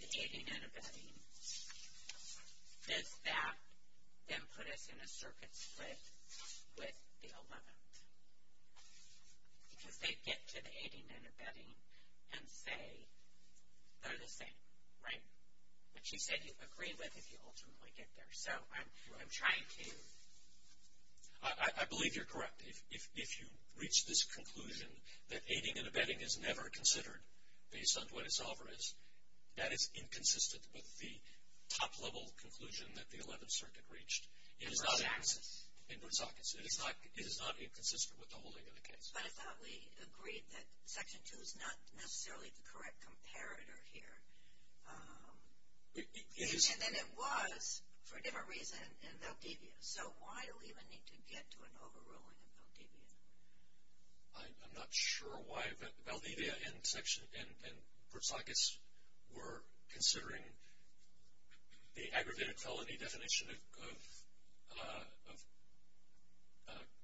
the aiding and abetting, does that then put us in a circuit split with the 11th? Because they'd get to the aiding and abetting and say they're the same, right? But you said you'd agree with if you ultimately get there. So I'm trying to. I believe you're correct. If you reach this conclusion that aiding and abetting is never considered based on what a solver is, that is inconsistent with the top-level conclusion that the 11th Circuit reached. Input sockets. Input sockets. It is not inconsistent with the holding of the case. But I thought we agreed that Section 2 is not necessarily the correct comparator here. It is. And then it was for a different reason in Valdivia. So why do we even need to get to an overruling in Valdivia? I'm not sure why. Valdivia and Port Saucas were considering the aggravated felony definition of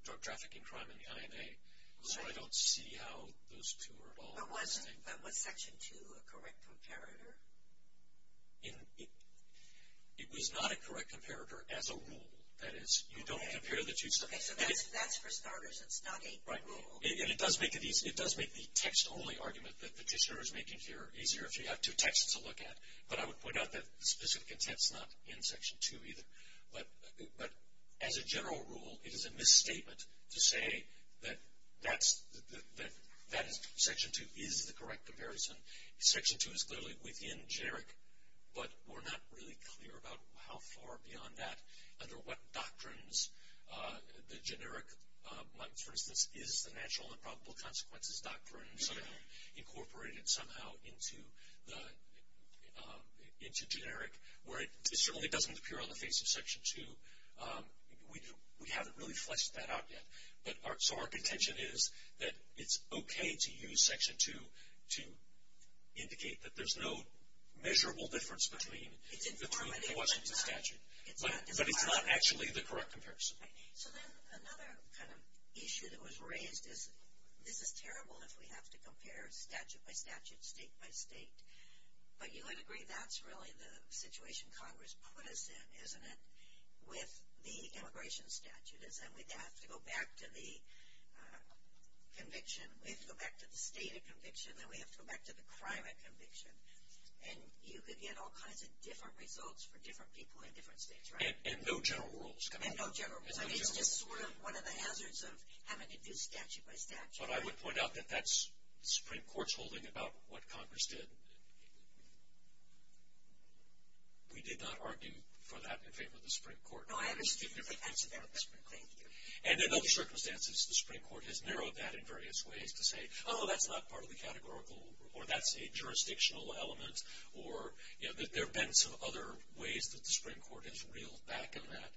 drug trafficking crime in the INA. So I don't see how those two are at all the same. But was Section 2 a correct comparator? It was not a correct comparator as a rule. That is, you don't compare the two. So that's for starters. It's not a rule. Right. And it does make the text-only argument that Petitioner is making here easier if you have two texts to look at. But I would point out that specific intent is not in Section 2 either. But as a general rule, it is a misstatement to say that Section 2 is the correct comparison. Section 2 is clearly within generic. But we're not really clear about how far beyond that, under what doctrines the generic, for instance, is the natural and probable consequences doctrines incorporated somehow into generic, where it certainly doesn't appear on the face of Section 2. We haven't really fleshed that out yet. So our contention is that it's okay to use Section 2 to indicate that there's no measurable difference between the two. It's informative, but it's not. But it's not actually the correct comparison. So then another kind of issue that was raised is this is terrible if we have to compare statute by statute, state by state. But you would agree that's really the situation Congress put us in, isn't it, with the immigration statute, is that we have to go back to the conviction. We have to go back to the stated conviction. Then we have to go back to the crime at conviction. And you could get all kinds of different results for different people in different states, right? And no general rules. And no general rules. I mean, it's just sort of one of the hazards of having to do statute by statute. So I would point out that that's the Supreme Court's holding about what Congress did. We did not argue for that in favor of the Supreme Court. No, I haven't. Thank you. And in other circumstances, the Supreme Court has narrowed that in various ways to say, oh, that's not part of the categorical, or that's a jurisdictional element, or, you know, that there have been some other ways that the Supreme Court has reeled back on that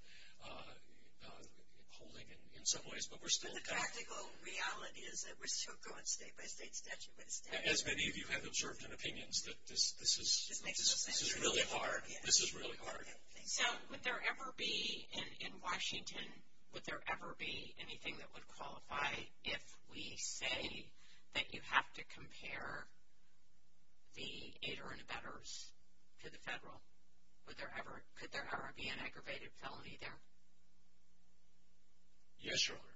holding in some ways. But the practical reality is that we're still going state by state statute by statute. As many of you have observed in opinions, this is really hard. This is really hard. So would there ever be, in Washington, would there ever be anything that would qualify if we say that you have to compare the aider and abettors to the federal? Could there ever be an aggravated felony there? Yes, Your Honor.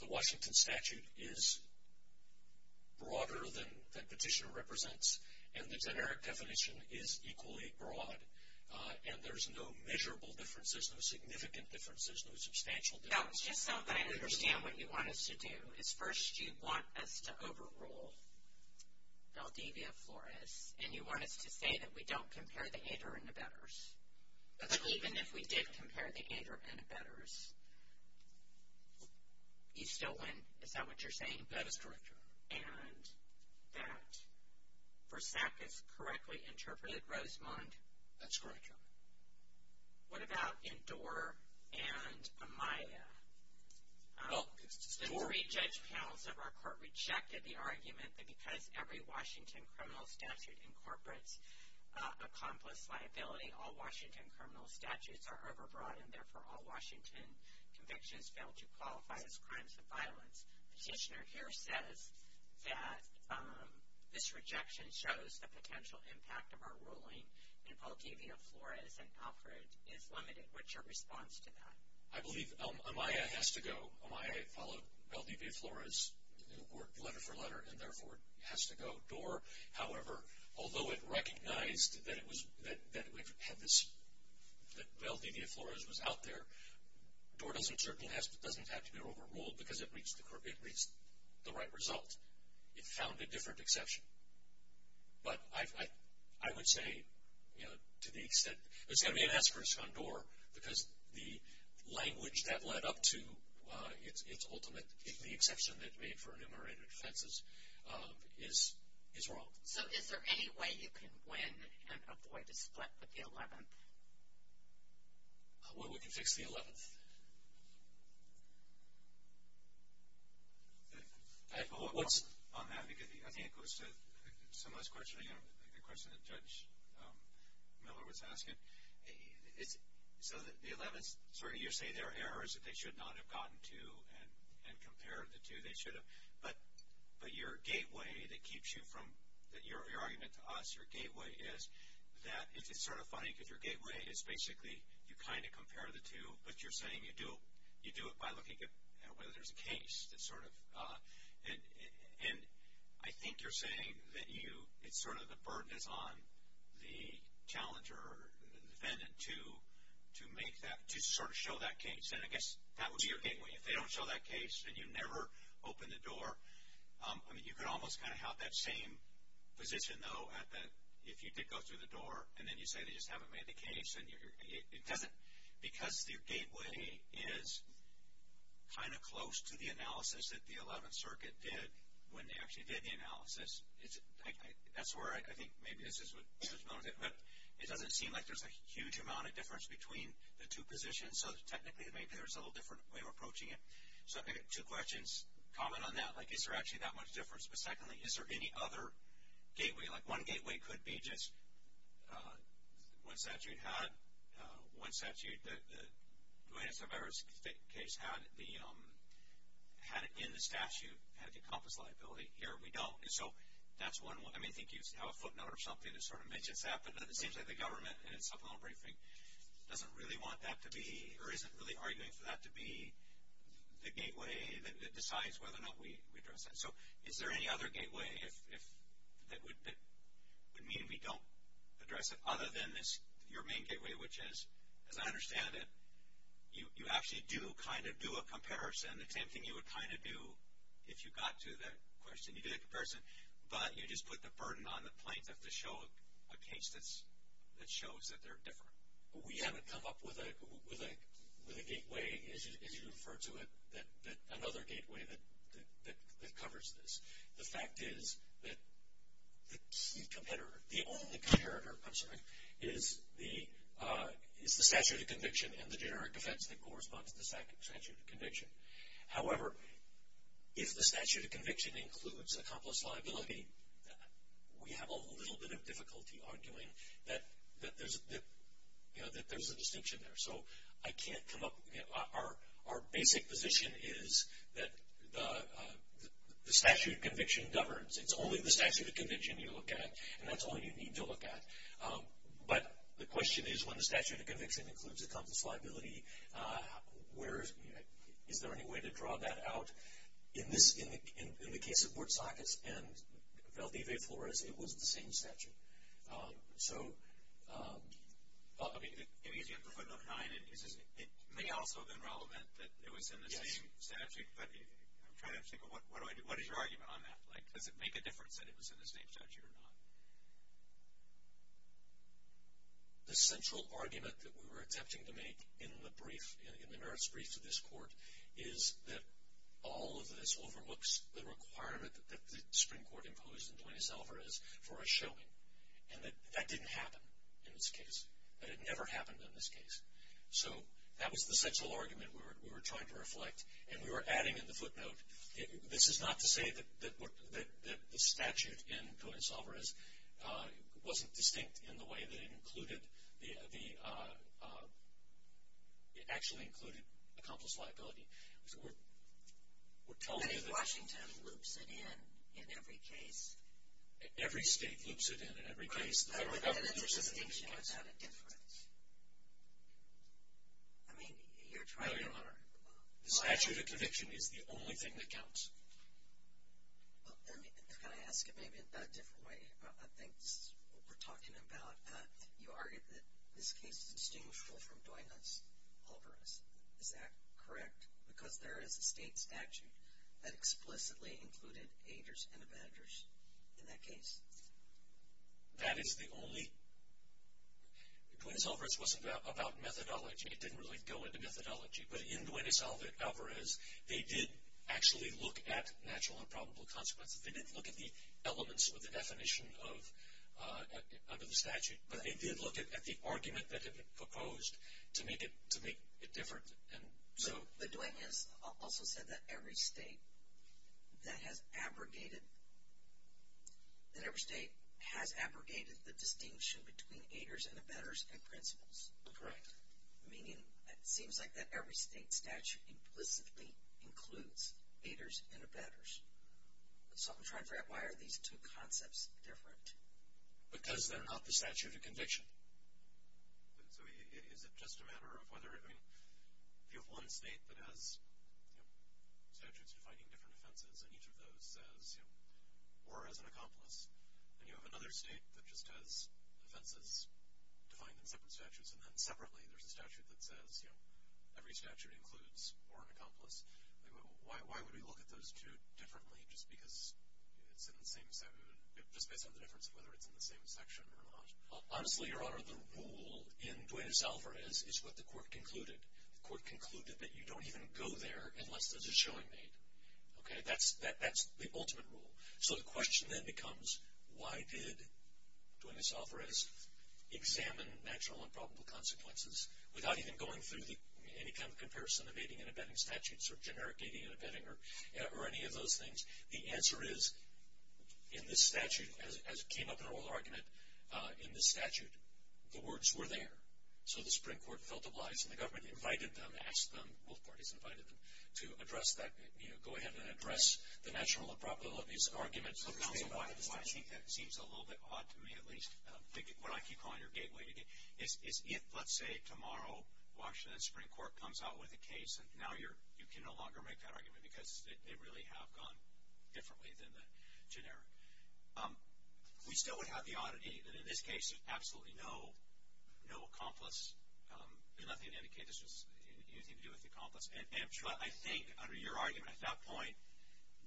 The Washington statute is broader than petitioner represents, and the generic definition is equally broad, and there's no measurable differences, no significant differences, no substantial differences. No, it's just so that I understand what you want us to do is first you want us to overrule Valdivia Flores, and you want us to say that we don't compare the aider and abettors. That's correct. Even if we did compare the aider and abettors, you still win. Is that what you're saying? That is correct, Your Honor. And that Versack has correctly interpreted Rosemond? That's correct, Your Honor. What about Indore and Amaya? Indore. The three judge panels of our court rejected the argument that because every Washington criminal statute incorporates accomplice liability, all Washington criminal statutes are overbroad, and, therefore, all Washington convictions fail to qualify as crimes of violence. Petitioner here says that this rejection shows the potential impact of our ruling, and Valdivia Flores and Alfred is limited. What's your response to that? I believe Amaya has to go. Amaya followed Valdivia Flores letter for letter, and, therefore, it has to go. Indore, however, although it recognized that Valdivia Flores was out there, Indore doesn't have to be overruled because it reached the right result. It found a different exception. But I would say, you know, to the extent, it's going to be an aspiration on Indore because the language that led up to its ultimate, the exception that made for enumerated offenses is wrong. So is there any way you can win and avoid a split with the 11th? Well, we can fix the 11th. What's on that? Because I think it goes to some of this questioning, the question that Judge Miller was asking. So the 11th, so you say there are errors that they should not have gotten to and compared the two. They should have. But your gateway that keeps you from, your argument to us, your gateway is that it's sort of funny because your gateway is basically you kind of compare the two, but you're saying you do it by looking at whether there's a case. It's sort of, and I think you're saying that you, it's sort of the burden is on the challenger, the defendant to make that, to sort of show that case. And I guess that would be your gateway. If they don't show that case and you never open the door, I mean, you could almost kind of have that same position, though, if you did go through the door and then you say they just haven't made the case. And it doesn't, because your gateway is kind of close to the analysis that the 11th Circuit did when they actually did the analysis, that's where I think maybe this is what Judge Miller said. But it doesn't seem like there's a huge amount of difference between the two positions. So technically, maybe there's a little different way of approaching it. So I've got two questions. Comment on that. Like, is there actually that much difference? But secondly, is there any other gateway? Like, one gateway could be just one statute had, one statute, the Duane Acevedo case had it in the statute, had the compass liability. Here, we don't. And so that's one. I mean, I think you have a footnote or something that sort of mentions that. But it seems like the government in its supplemental briefing doesn't really want that to be, or isn't really arguing for that to be the gateway that decides whether or not we address that. So is there any other gateway that would mean we don't address it other than your main gateway, which is, as I understand it, you actually do kind of do a comparison, the same thing you would kind of do if you got to that question. You do a comparison, but you just put the burden on the plaintiff to show a case that shows that they're different. We haven't come up with a gateway, as you refer to it, another gateway that covers this. The fact is that the only competitor is the statute of conviction and the generic defense that corresponds to the statute of conviction. However, if the statute of conviction includes a compass liability, we have a little bit of difficulty arguing that there's a distinction there. So I can't come up, our basic position is that the statute of conviction governs. It's only the statute of conviction you look at, and that's all you need to look at. But the question is, when the statute of conviction includes a compass liability, is there any way to draw that out? In the case of Bortsockets and Valdivie Flores, it was the same statute. So, I mean. It may also have been relevant that it was in the same statute, but I'm trying to think of what is your argument on that? Does it make a difference that it was in the same statute or not? The central argument that we were attempting to make in the brief, in the merits brief to this court, is that all of this overlooks the requirement that the Supreme Court imposed in Duenes-Alvarez for a showing, and that that didn't happen in this case. That it never happened in this case. So that was the central argument we were trying to reflect, and we were adding in the footnote, this is not to say that the statute in Duenes-Alvarez wasn't distinct in the way that it included the, it actually included a compass liability. We're telling you that. What if Washington loops it in, in every case? Every state loops it in, in every case. The federal government loops it in in every case. But then the distinction goes out of difference. I mean, you're trying to. No, Your Honor. The statute of conviction is the only thing that counts. Can I ask it maybe in a different way? I think this is what we're talking about. You argued that this case is distinguishable from Duenes-Alvarez. Is that correct? Because there is a state statute that explicitly included aiders and abandoners in that case. That is the only. Duenes-Alvarez wasn't about methodology. It didn't really go into methodology. But in Duenes-Alvarez, they did actually look at natural and probable consequences. They didn't look at the elements or the definition under the statute. But they did look at the argument that had been proposed to make it different. So. But Duenes also said that every state that has abrogated, that every state has abrogated the distinction between aiders and abandoners and principles. Correct. Meaning it seems like that every state statute implicitly includes aiders and abandoners. So I'm trying to figure out why are these two concepts different. Because they're not the statute of conviction. So is it just a matter of whether, I mean, if you have one state that has statutes defining different offenses and each of those says war as an accomplice, and you have another state that just has offenses defined in separate statutes and then separately there's a statute that says every statute includes war as an accomplice, why would we look at those two differently just because it's in the same, just based on the difference of whether it's in the same section or not? Honestly, Your Honor, the rule in Duenes-Alvarez is what the court concluded. The court concluded that you don't even go there unless there's a showing made. Okay? That's the ultimate rule. So the question then becomes why did Duenes-Alvarez examine natural and probable consequences without even going through any kind of comparison of aiding and abetting statutes or generic aiding and abetting or any of those things? The answer is in this statute, as came up in oral argument, in this statute the words were there. So the Supreme Court felt obliged and the government invited them, asked them, both parties invited them to address that, you know, and this argument seems a little bit odd to me at least, what I keep calling your gateway, is if, let's say, tomorrow Washington Supreme Court comes out with a case and now you can no longer make that argument because they really have gone differently than the generic. We still would have the oddity that in this case there's absolutely no accomplice. There's nothing to indicate this has anything to do with the accomplice. I think under your argument at that point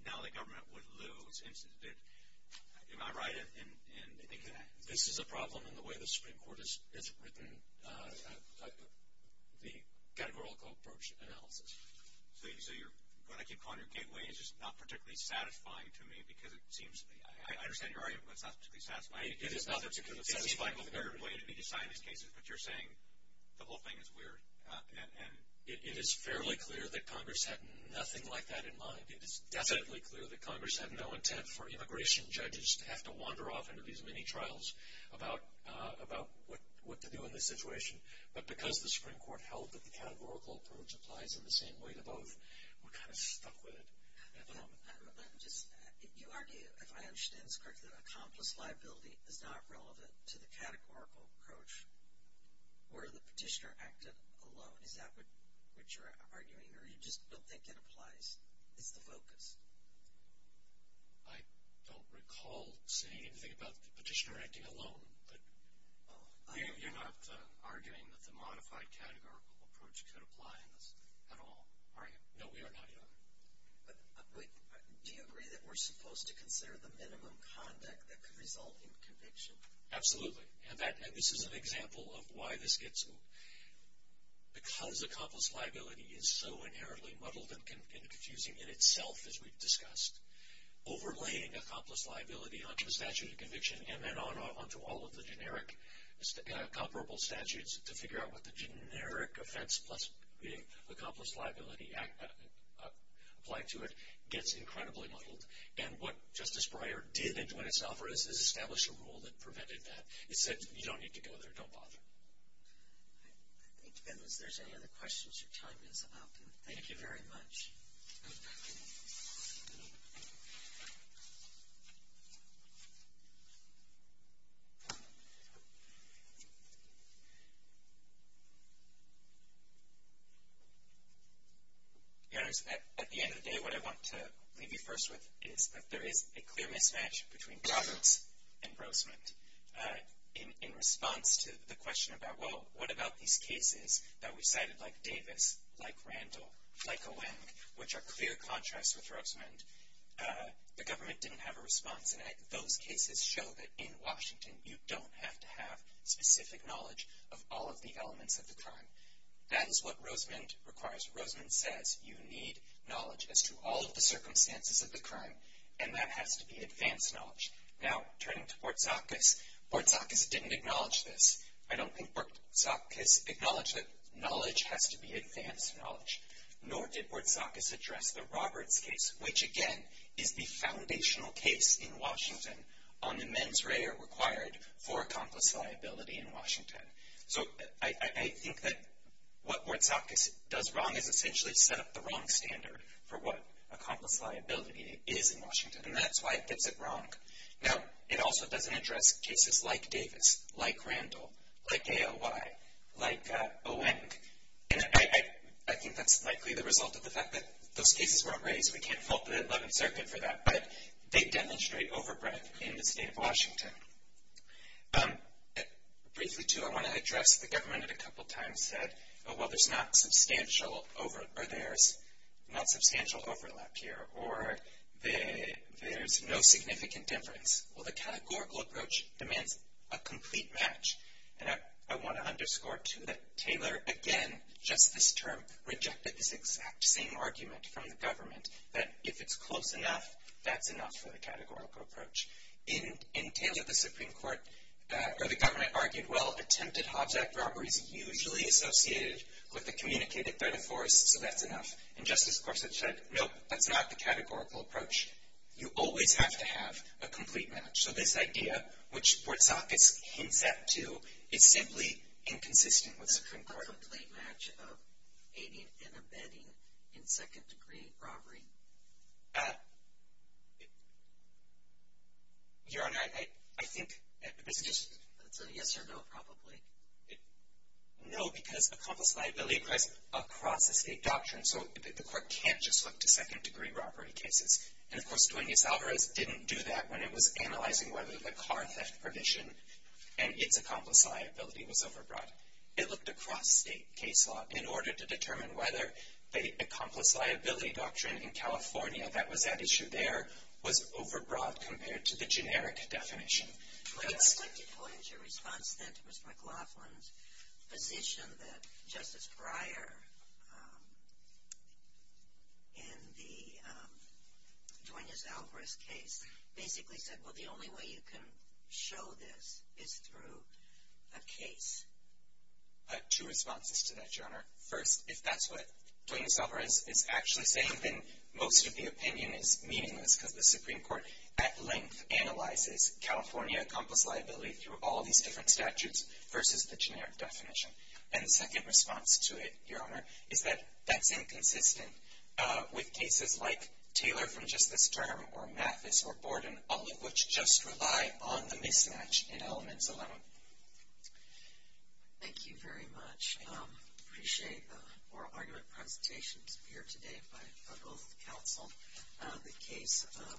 now the government would lose. Am I right in thinking that? This is a problem in the way the Supreme Court has written the categorical approach analysis. So what I keep calling your gateway is just not particularly satisfying to me because it seems, I understand your argument, but it's not particularly satisfying. It is not particularly satisfying. It seems like a weird way to be designing these cases, but you're saying the whole thing is weird. And it is fairly clear that Congress had nothing like that in mind. It is definitely clear that Congress had no intent for immigration judges to have to wander off into these mini trials about what to do in this situation. But because the Supreme Court held that the categorical approach applies in the same way to both, we're kind of stuck with it at the moment. You argue, if I understand this correctly, that accomplice liability is not relevant to the categorical approach where the petitioner acted alone. Is that what you're arguing, or you just don't think it applies? It's the focus. I don't recall saying anything about the petitioner acting alone, but you're not arguing that the modified categorical approach could apply in this at all, are you? No, we are not, either. Do you agree that we're supposed to consider the minimum conduct that could result in conviction? Absolutely, and this is an example of why this gets, because accomplice liability is so inherently muddled and confusing in itself, as we've discussed, overlaying accomplice liability onto the statute of conviction and then onto all of the generic comparable statutes to figure out what the generic offense plus being accomplice liability applied to it gets incredibly muddled. And what Justice Breyer did in doing his office is establish a rule that prevented that. It said you don't need to go there. Don't bother. Thank you, and if there's any other questions, your time is up. Thank you very much. Your Honor, at the end of the day, what I want to leave you first with is that there is a clear mismatch between Roberts and Rosemond in response to the question about, well, what about these cases that we've cited like Davis, like Randall, like Oweng, which are clear contrasts with Rosemond? The government didn't have a response, and those cases show that in Washington you don't have to have specific knowledge of all of the elements of the crime. That is what Rosemond requires. Rosemond says you need knowledge as to all of the circumstances of the crime, and that has to be advanced knowledge. Now, turning to Bortzakis, Bortzakis didn't acknowledge this. I don't think Bortzakis acknowledged that knowledge has to be advanced knowledge, nor did Bortzakis address the Roberts case, which, again, is the foundational case in Washington on the mens rea required for accomplice liability in Washington. So I think that what Bortzakis does wrong is essentially set up the wrong standard for what accomplice liability is in Washington, and that's why it gets it wrong. Now, it also doesn't address cases like Davis, like Randall, like ALY, like Oweng. And I think that's likely the result of the fact that those cases weren't raised. We can't fault the 11th Circuit for that, but they demonstrate overbreadth in the state of Washington. Briefly, too, I want to address the government that a couple times said, well, there's not substantial overlap here, or there's no significant difference. Well, the categorical approach demands a complete match. And I want to underscore, too, that Taylor, again, just this term, rejected this exact same argument from the government that if it's close enough, that's enough for the categorical approach. In Taylor, the Supreme Court or the government argued, well, attempted Hobbs Act robbery is usually associated with a communicated threat of force, so that's enough. And Justice Gorsuch said, nope, that's not the categorical approach. You always have to have a complete match. So this idea, which Bortzakis hints at, too, is simply inconsistent with Supreme Court. It's a complete match of aiding and abetting in second-degree robbery. Your Honor, I think it's just. It's a yes or no, probably. No, because accomplice liability applies across the state doctrine, so the court can't just look to second-degree robbery cases. And, of course, Duenas-Alvarez didn't do that when it was analyzing whether the car theft provision and its accomplice liability was overbroad. It looked across state case law in order to determine whether the accomplice liability doctrine in California, that was at issue there, was overbroad compared to the generic definition. I'd like to go into a response then to Ms. McLaughlin's position that Justice Breyer in the Duenas-Alvarez case basically said, well, the only way you can show this is through a case. Two responses to that, Your Honor. First, if that's what Duenas-Alvarez is actually saying, then most of the opinion is meaningless because the Supreme Court, at length, analyzes California accomplice liability through all these different statutes versus the generic definition. And the second response to it, Your Honor, is that that's inconsistent with cases like Taylor v. Justice Durham or Mathis v. Borden, all of which just rely on the mismatch in elements alone. Thank you very much. I appreciate the oral argument presentations here today by both counsel. The case of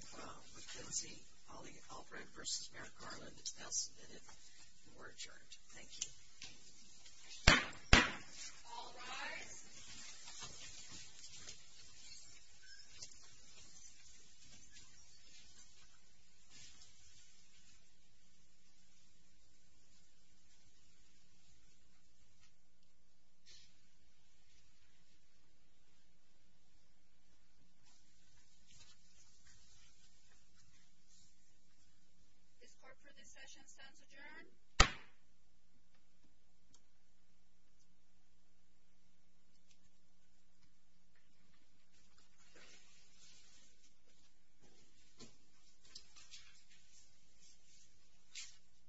McKenzie v. Albright v. Merrick Garland is now submitted and we're adjourned. Thank you. All rise. This court for this session stands adjourned. Thank you.